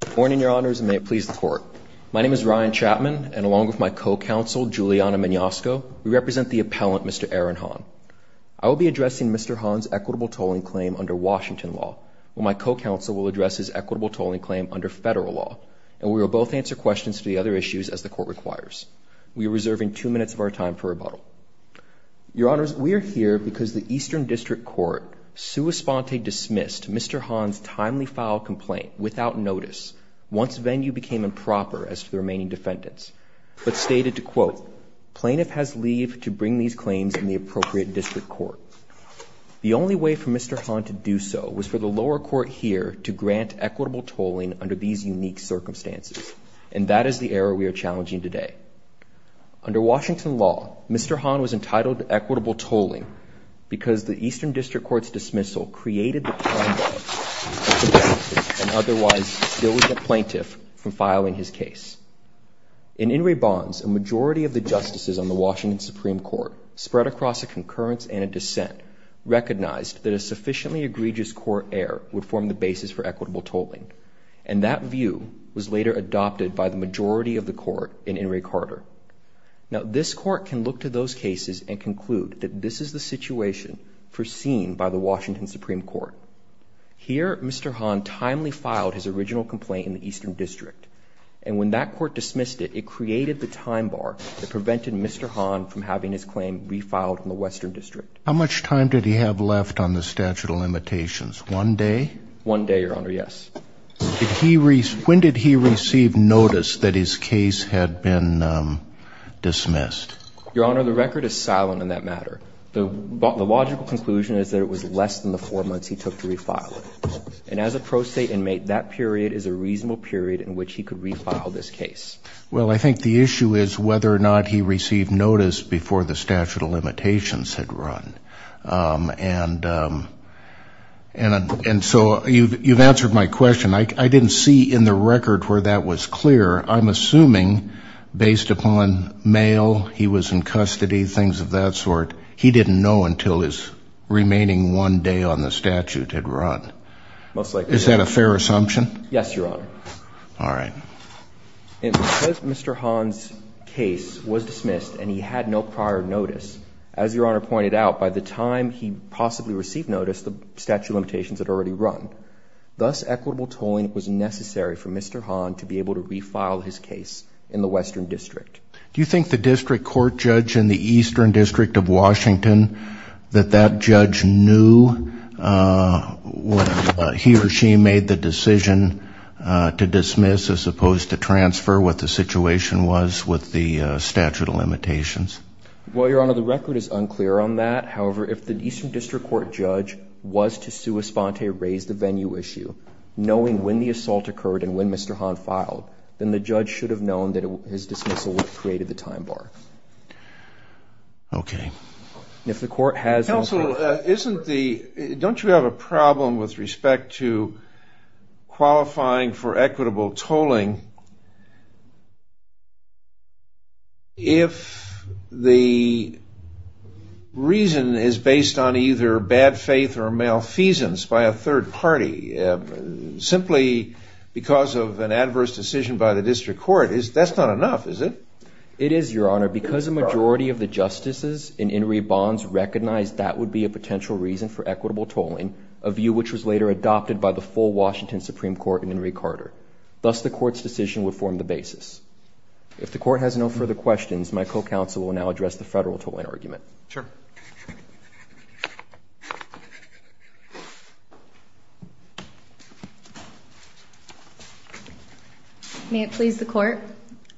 Good morning, your honors, and may it please the court. My name is Ryan Chapman, and along with my co-counsel, Giuliana Magnosco, we represent the appellant, Mr. Aaron Hahn. I will be addressing Mr. Hahn's equitable tolling claim under Washington law, while my co-counsel will address his equitable tolling claim under federal law. And we will both answer questions to the other issues as the court requires. We are reserving two minutes of our time for rebuttal. Your honors, we are here because the Eastern District Court sua sponte dismissed Mr. Hahn's timely file complaint without notice once venue became improper as to the remaining defendants, but stated to quote, plaintiff has leave to bring these claims in the appropriate district court. The only way for Mr. Hahn to do so was for the lower court here to grant equitable tolling under these unique circumstances. And that is the error we are challenging today. Under Washington law, Mr. Hahn was entitled to equitable tolling because the Eastern District Court's dismissal created the time gap and otherwise still would get plaintiff from filing his case. In In re bonds, a majority of the justices on the Washington Supreme Court spread across a concurrence and a dissent, recognized that a sufficiently egregious court error would form the basis for equitable tolling. And that view was later adopted by the majority of the court in In re Carter. Now this court can look to those cases and conclude that this is the situation foreseen by the Washington Supreme Court. Here, Mr. Hahn timely filed his original complaint in the Eastern District. And when that court dismissed it, it created the time bar that prevented Mr. Hahn from having his claim refiled in the Western District. How much time did he have left on the statute of limitations? One day? One day, Your Honor, yes. When did he receive notice that his case had been dismissed? Your Honor, the record is silent on that matter. The logical conclusion is that it was less than the four months he took to refile it. And as a pro-state inmate, that period is a reasonable period in which he could refile this case. Well, I think the issue is whether or not he received notice before the statute of limitations had run. And so you've answered my question. I didn't see in the record where that was clear. I'm assuming, based upon mail, he was in custody, things of that sort. He didn't know until his remaining one day on the statute had run. Most likely. Is that a fair assumption? Yes, Your Honor. All right. And because Mr. Hahn's case was dismissed and he had no prior notice, as Your Honor pointed out, by the time he possibly received notice, the statute of limitations had already run. Thus, equitable tolling was necessary for Mr. Hahn to be able to refile his case in the Western District. Do you think the district court judge in the Eastern District of Washington, that that judge knew he or she made the decision to dismiss, as opposed to transfer, what the situation was with the statute of limitations? Well, Your Honor, the record is unclear on that. However, if the Eastern District Court judge was to sua sponte raise the venue issue, knowing when the assault occurred and when Mr. Hahn filed, then the judge should have known that his dismissal would have created the time bar. OK. If the court has no proof. Counsel, isn't the, don't you have a problem with respect to qualifying for equitable tolling if the reason is based on either bad faith or malfeasance by a third party, simply because of an adverse decision by the district court? That's not enough, is it? It is, Your Honor. Because a majority of the justices in In re Bonds recognized that would be a potential reason for equitable tolling, a view which was later adopted by the full Washington Supreme Court in In re Carter. Thus, the court's decision would form the basis. If the court has no further questions, my co-counsel will now address the federal tolling argument. Sure. May it please the court.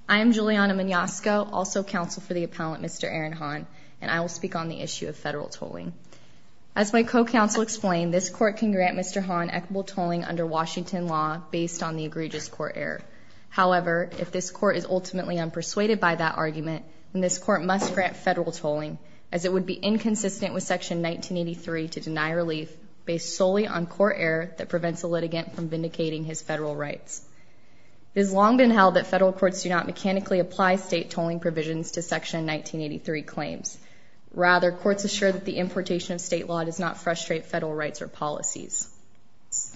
I am Juliana Mignasco, also counsel for the appellant, Mr. Aaron Hahn, and I will speak on the issue of federal tolling. As my co-counsel explained, this court can grant Mr. Hahn equitable tolling under Washington law based on the egregious court error. However, if this court is ultimately unpersuaded by that argument, then this court must grant federal tolling, as it would be inconsistent with Section 1983 to deny relief based solely on court error that prevents a litigant from vindicating his federal rights. It has long been held that federal courts do not mechanically apply state tolling provisions to Section 1983 claims. Rather, courts assure that the importation of state law does not frustrate federal rights or policies.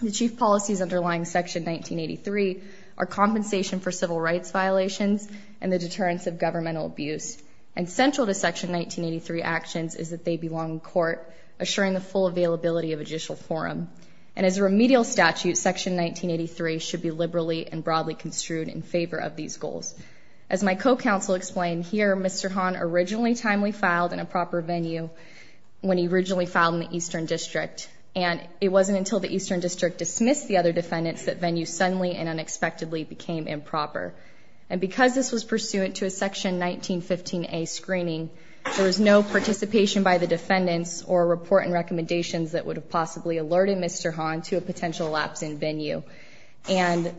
The chief policies underlying Section 1983 are compensation for civil rights violations and the deterrence of governmental abuse. And central to Section 1983 actions is that they belong in court, assuring the full availability of a judicial forum. And as a remedial statute, Section 1983 should be liberally and broadly construed in favor of these goals. As my co-counsel explained here, Mr. Hahn originally timely filed in a proper venue when he originally filed in the Eastern District. And it wasn't until the Eastern District dismissed the other defendants that venue suddenly and unexpectedly became improper. And because this was pursuant to a Section 1915A screening, there was no participation by the defendants or report and recommendations that would have possibly alerted Mr. Hahn to a potential lapse in venue. And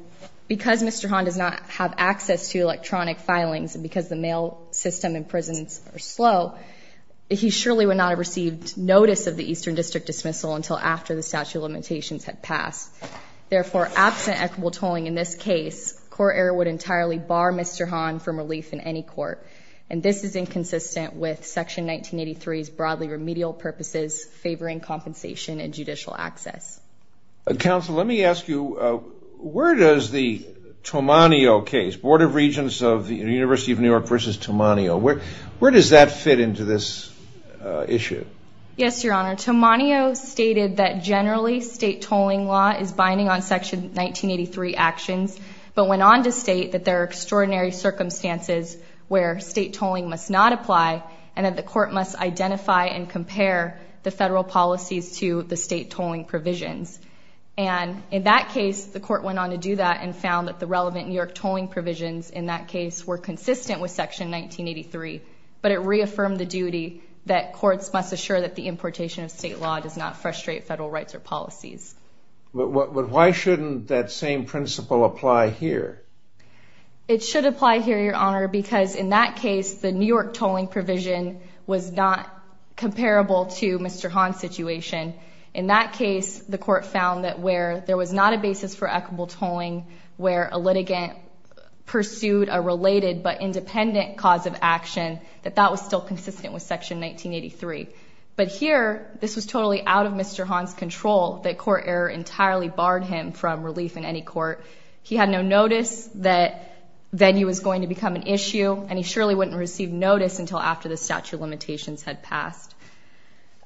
because Mr. Hahn does not have access to electronic filings, and because the mail system in prisons are slow, he surely would not have received notice of the Eastern District dismissal until after the statute of limitations had passed. Therefore, absent equitable tolling in this case, court error would entirely bar Mr. Hahn from relief in any court. And this is inconsistent with Section 1983's broadly remedial purposes favoring compensation and judicial access. Counsel, let me ask you, where does the Tomanio case, Board of Regents of the University of New York versus Tomanio, where does that fit into this issue? Yes, Your Honor. Tomanio stated that generally, state tolling law is binding on Section 1983 actions, but went on to state that there are extraordinary circumstances where state tolling must not apply and that the court must identify and compare the federal policies to the state tolling provisions. And in that case, the court went on to do that and found that the relevant New York tolling provisions in that case were consistent with Section 1983, but it reaffirmed the duty that courts must assure that the importation of state law does not frustrate federal rights or policies. But why shouldn't that same principle apply here? It should apply here, Your Honor, because in that case, the New York tolling provision was not comparable to Mr. Hahn's situation. In that case, the court found that where there was not a basis for equitable tolling, where a litigant pursued a related but independent cause of action, that that was still consistent with Section 1983. But here, this was totally out of Mr. Hahn's control that court error entirely barred him from relief in any court. He had no notice that venue was going to become an issue, and he surely wouldn't receive notice until after the statute of limitations had passed.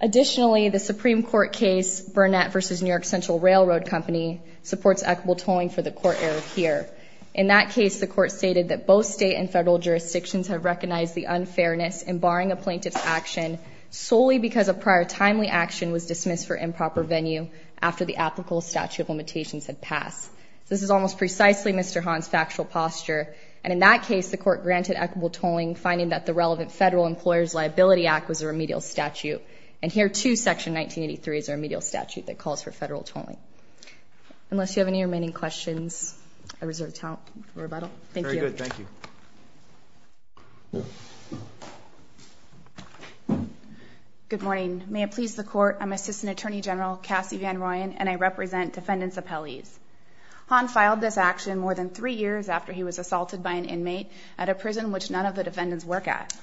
Additionally, the Supreme Court case Burnett versus New York Central Railroad Company supports equitable tolling for the court error here. In that case, the court stated that both state and federal jurisdictions have recognized the unfairness in barring a plaintiff's action solely because a prior timely action was dismissed for improper venue after the applicable statute of limitations had passed. This is almost precisely Mr. Hahn's factual posture. And in that case, the court granted equitable tolling, finding that the relevant Federal Employers Liability Act was a remedial statute. And here, too, Section 1983 is a remedial statute that calls for federal tolling. Unless you have any remaining questions, I reserve the time for rebuttal. Thank you. Very good. Thank you. Good morning. May it please the court, I'm Assistant Attorney General Cassie VanRoyen, and I represent defendants' appellees. Hahn filed this action more than three years after he was assaulted by an inmate at a prison which none of the defendants work at.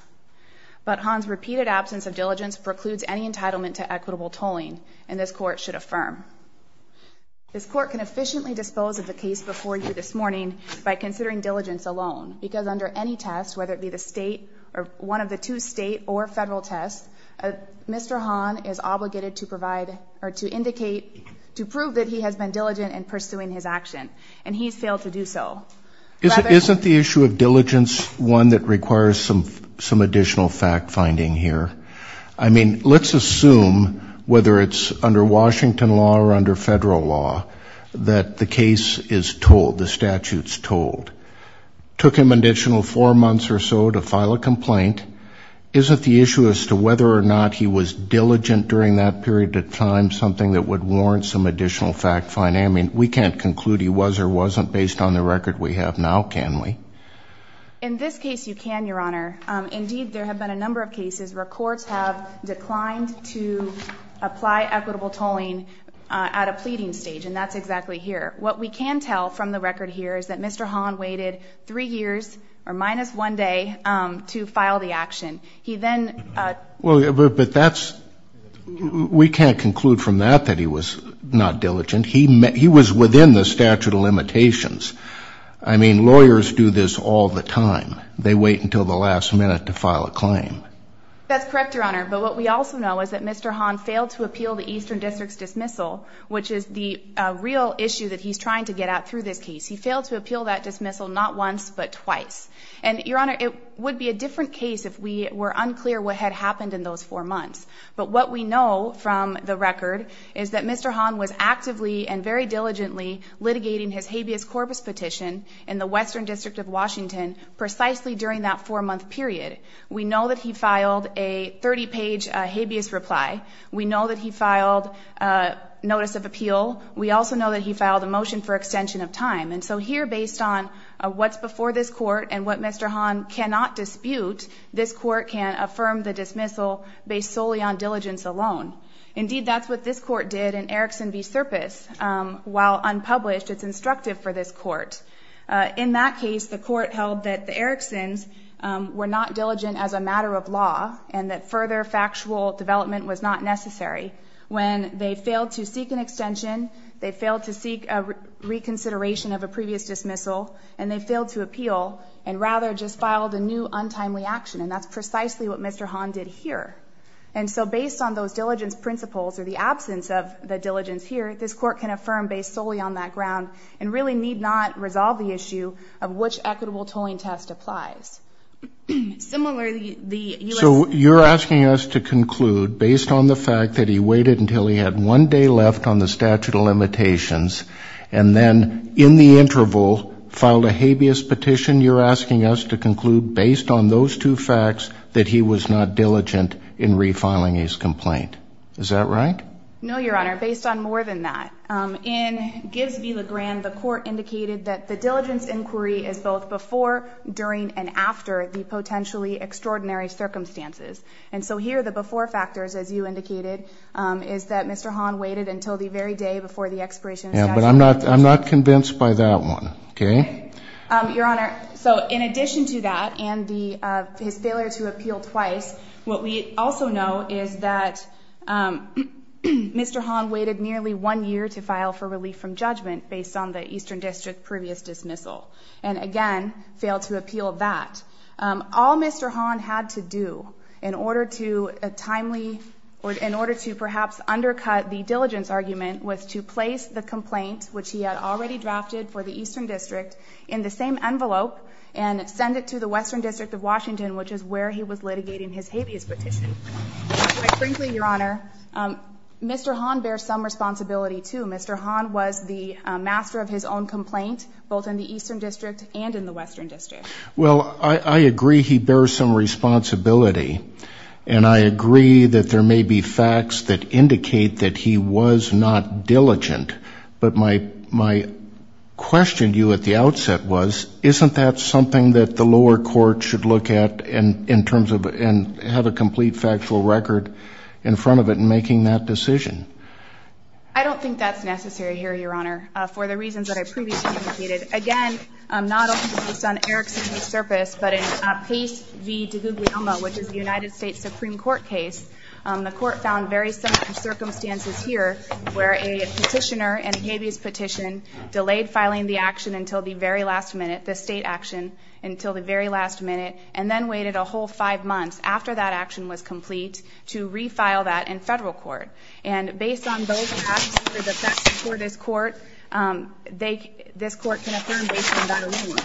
But Hahn's repeated absence of diligence precludes any entitlement to equitable tolling, and this court should affirm. This court can efficiently dispose of the case before you this morning by considering diligence alone, because under any test, whether it be one of the two state or federal tests, Mr. Hahn is obligated to prove that he has been diligent in pursuing his action. And he's failed to do so. Isn't the issue of diligence one that requires some additional fact-finding here? I mean, let's assume, whether it's under Washington law or under federal law, that the case is told, the statute's told. Took him an additional four months or so to file a complaint. Isn't the issue as to whether or not he was diligent during that period of time something that would warrant some additional fact-finding? We can't conclude he was or wasn't based on the record we have now, can we? In this case, you can, Your Honor. Indeed, there have been a number of cases where courts have declined to apply equitable tolling at a pleading stage, and that's exactly here. What we can tell from the record here is that Mr. Hahn waited three years, or minus one day, to file the action. He then- Well, but that's, we can't conclude from that that he was not diligent. He was within the statute of limitations. I mean, lawyers do this all the time. They wait until the last minute to file a claim. That's correct, Your Honor. But what we also know is that Mr. Hahn failed to appeal the Eastern District's dismissal, which is the real issue that he's trying to get at through this case. He failed to appeal that dismissal not once, but twice. And Your Honor, it would be a different case if we were unclear what had happened in those four months. But what we know from the record is that Mr. Hahn was actively and very diligently litigating his habeas corpus petition in the Western District of Washington precisely during that four-month period. We know that he filed a 30-page habeas reply. We know that he filed a notice of appeal. We also know that he filed a motion for extension of time. And so here, based on what's before this court and what Mr. Hahn cannot dispute, this court can affirm the dismissal based solely on diligence alone. Indeed, that's what this court did in Erickson v. Serpis. While unpublished, it's instructive for this court. In that case, the court held that the Ericksons were not diligent as a matter of law and that further factual development was not necessary. When they failed to seek an extension, they failed to seek a reconsideration of a previous dismissal, and they failed to appeal and rather just filed a new untimely action. And that's precisely what Mr. Hahn did here. And so based on those diligence principles or the absence of the diligence here, this court can affirm based solely on that ground and really need not resolve the issue of which equitable tolling test applies. Similarly, the U.S. So you're asking us to conclude based on the fact that he waited until he had one day left on the statute of limitations and then in the interval filed a habeas petition. You're asking us to conclude based on those two facts that he was not diligent in refiling his complaint. Is that right? No, Your Honor. Based on more than that. In Gibbs v. Legrand, the court indicated that the diligence inquiry is both before, during, and after the potentially extraordinary circumstances. And so here, the before factors, as you indicated, is that Mr. Hahn waited until the very day before the expiration of the statute of limitations. I'm not convinced by that one, okay? Your Honor, so in addition to that and his failure to appeal twice, what we also know is that Mr. Hahn waited nearly one year to file for relief from judgment based on the Eastern District previous dismissal. And again, failed to appeal that. All Mr. Hahn had to do in order to a timely, or in order to perhaps undercut the diligence argument was to place the complaint, which he had already drafted for the Eastern District, in the same envelope and send it to the Western District of Washington, which is where he was litigating his habeas petition. But frankly, Your Honor, Mr. Hahn bears some responsibility too. Mr. Hahn was the master of his own complaint, both in the Eastern District and in the Western District. Well, I agree he bears some responsibility. And I agree that there may be facts that indicate that he was not diligent. But my question to you at the outset was, isn't that something that the lower court should look at in terms of, and have a complete factual record in front of it in making that decision? I don't think that's necessary here, Your Honor, for the reasons that I previously indicated. Again, not only based on Erickson's disservice, but in Pace v. DiGuglielmo, which is the United States Supreme Court case, the court found very similar circumstances here where a petitioner in a habeas petition delayed filing the action until the very last minute. The state action until the very last minute, and then waited a whole five months after that action was complete to refile that in federal court. And based on those facts before this court, this court can affirm based on that alone.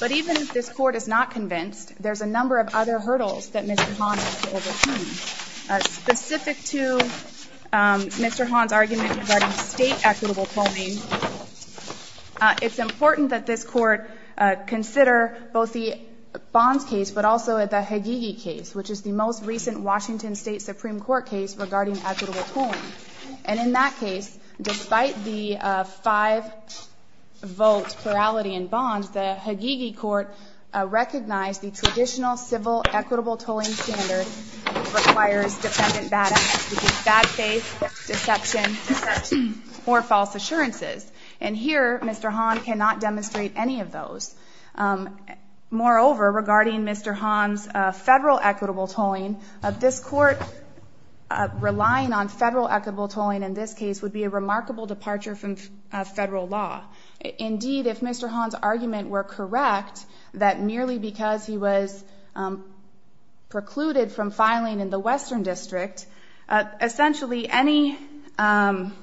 But even if this court is not convinced, there's a number of other hurdles that Mr. Hahn has to overcome. Specific to Mr. Hahn's argument regarding state equitable polling, it's important that this court consider both the Bonds case, but also the Higigi case, which is the most recent Washington State Supreme Court case regarding equitable polling. And in that case, despite the five vote plurality in Bonds, the Higigi court recognized the traditional civil equitable tolling standard requires defendant bad acts, which is bad faith, deception, deception, or false assurances. And here, Mr. Hahn cannot demonstrate any of those. Moreover, regarding Mr. Hahn's federal equitable tolling, this court relying on federal equitable tolling in this case would be a remarkable departure from federal law. Indeed, if Mr. Hahn's argument were correct, that merely because he was precluded from filing in the Western District, essentially any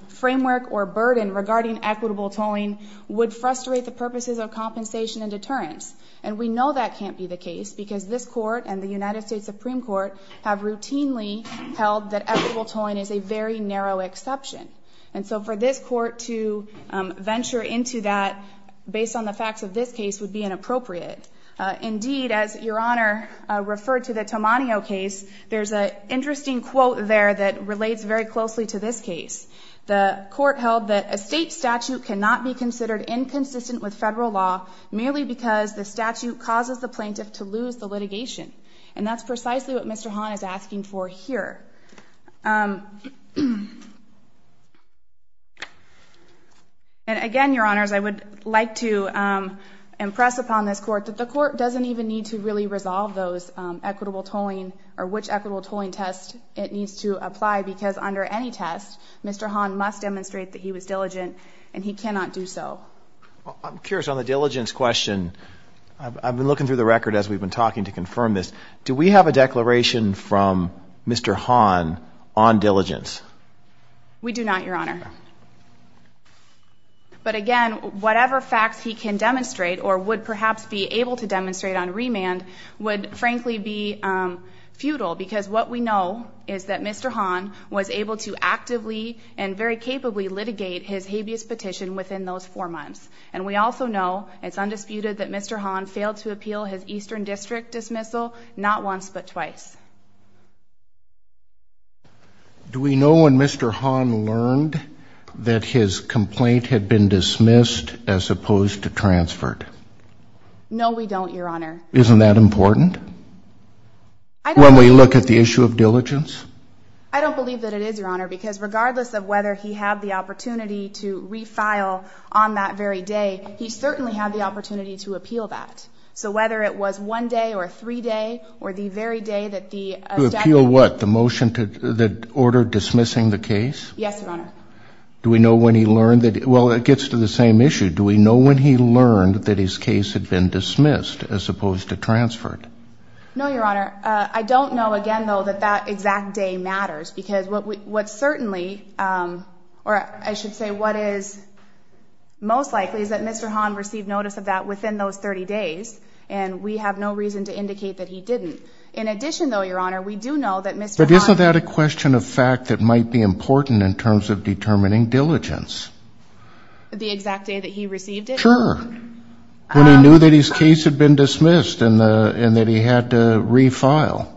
framework or burden regarding equitable tolling would frustrate the purposes of compensation and deterrence. And we know that can't be the case because this court and the United States Supreme Court have routinely held that equitable tolling is a very narrow exception. And so for this court to venture into that based on the facts of this case would be inappropriate. Indeed, as Your Honor referred to the Tomanio case, there's an interesting quote there that relates very closely to this case. The court held that a state statute cannot be considered inconsistent with federal law merely because the statute causes the plaintiff to lose the litigation. And that's precisely what Mr. Hahn is asking for here. And again, Your Honors, I would like to impress upon this court that the court doesn't even need to really resolve those equitable tolling or which equitable tolling test it needs to apply because under any test, Mr. Hahn must demonstrate that he was diligent and he cannot do so. Well, I'm curious on the diligence question. I've been looking through the record as we've been talking to confirm this. Do we have a declaration from Mr. Hahn on diligence? We do not, Your Honor. But again, whatever facts he can demonstrate or would perhaps be able to demonstrate on remand would frankly be futile because what we know is that Mr. Hahn was able to actively and very capably litigate his habeas petition within those four months. And we also know it's undisputed that Mr. Hahn failed to appeal his Eastern District dismissal not once but twice. Do we know when Mr. Hahn learned that his complaint had been dismissed as opposed to transferred? No, we don't, Your Honor. Isn't that important? When we look at the issue of diligence? I don't believe that it is, Your Honor, because regardless of whether he had the opportunity to refile on that very day, he certainly had the opportunity to appeal that. So whether it was one day or three day or the very day that the statute- To appeal what? The motion that ordered dismissing the case? Yes, Your Honor. Do we know when he learned that, well, it gets to the same issue. Do we know when he learned that his case had been dismissed as opposed to transferred? No, Your Honor. I don't know, again, though, that that exact day matters because what certainly, or I should say what is most likely is that Mr. Hahn received notice of that within those 30 days, and we have no reason to indicate that he didn't. In addition, though, Your Honor, we do know that Mr. Hahn- But isn't that a question of fact that might be important in terms of determining diligence? The exact day that he received it? Sure. When he knew that his case had been dismissed and that he had to refile?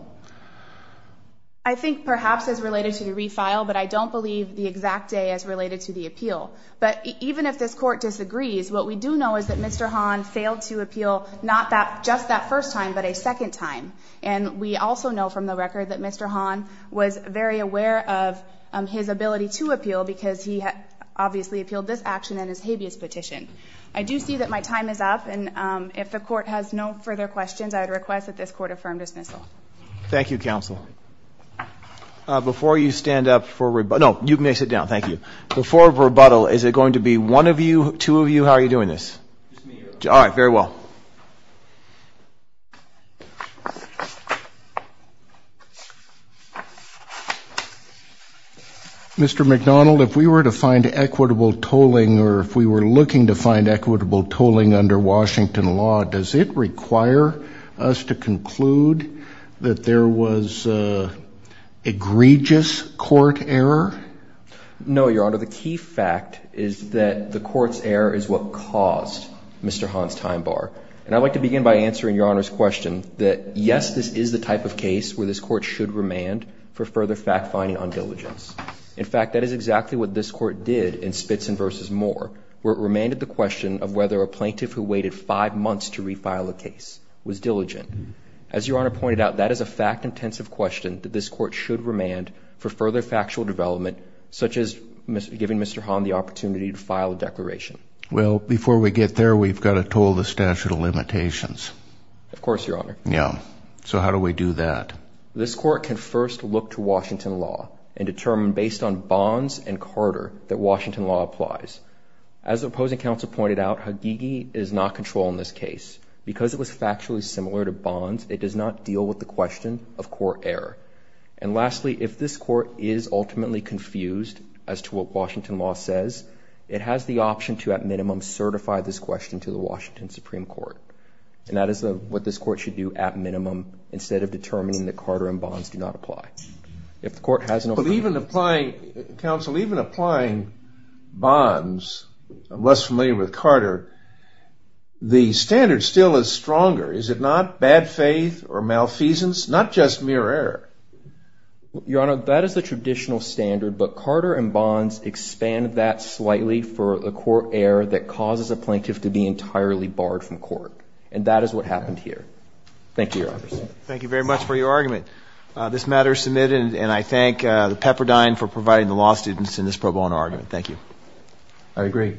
I think perhaps as related to the refile, but I don't believe the exact day as related to the appeal. But even if this court disagrees, what we do know is that Mr. Hahn failed to appeal not just that first time, but a second time. And we also know from the record that Mr. Hahn was very aware of his ability to appeal because he obviously appealed this action in his habeas petition. I do see that my time is up, and if the court has no further questions, I would request that this court affirm dismissal. Thank you, counsel. Before you stand up for rebut- No, you may sit down. Thank you. Before rebuttal, is it going to be one of you, two of you? How are you doing this? Just me. All right, very well. Mr. McDonald, if we were to find equitable tolling or if we were looking to find equitable tolling under Washington law, does it require us to conclude that there was egregious court error? No, Your Honor. The key fact is that the court's error is what caused Mr. Hahn's time bar. And I'd like to begin by answering Your Honor's question that yes, this is the type of case where this court should remand for further fact-finding on diligence. In fact, that is exactly what this court did in Spitzen v. Moore, where it remanded the question of whether a plaintiff who waited five months to refile a case was diligent. As Your Honor pointed out, that is a fact-intensive question that this court should remand for further factual development, such as giving Mr. Hahn the opportunity to file a declaration. Well, before we get there, we've got to toll the statute of limitations. Of course, Your Honor. Yeah, so how do we do that? This court can first look to Washington law and determine based on Bonds and Carter that Washington law applies. As the opposing counsel pointed out, Hagigi is not control in this case. Because it was factually similar to Bonds, it does not deal with the question of court error. And lastly, if this court is ultimately confused as to what Washington law says, it has the option to at minimum certify this question to the Washington Supreme Court. And that is what this court should do at minimum instead of determining that Carter and Bonds do not apply. If the court has no- But even applying, Counsel, even applying Bonds, I'm less familiar with Carter, the standard still is stronger. Is it not bad faith or malfeasance? Not just mere error. Your Honor, that is the traditional standard, but Carter and Bonds expand that slightly for a court error that causes a plaintiff to be entirely barred from court. And that is what happened here. Thank you, Your Honor. Thank you very much for your argument. This matter is submitted and I thank the Pepperdine for providing the law students in this pro bono argument. Thank you. I agree.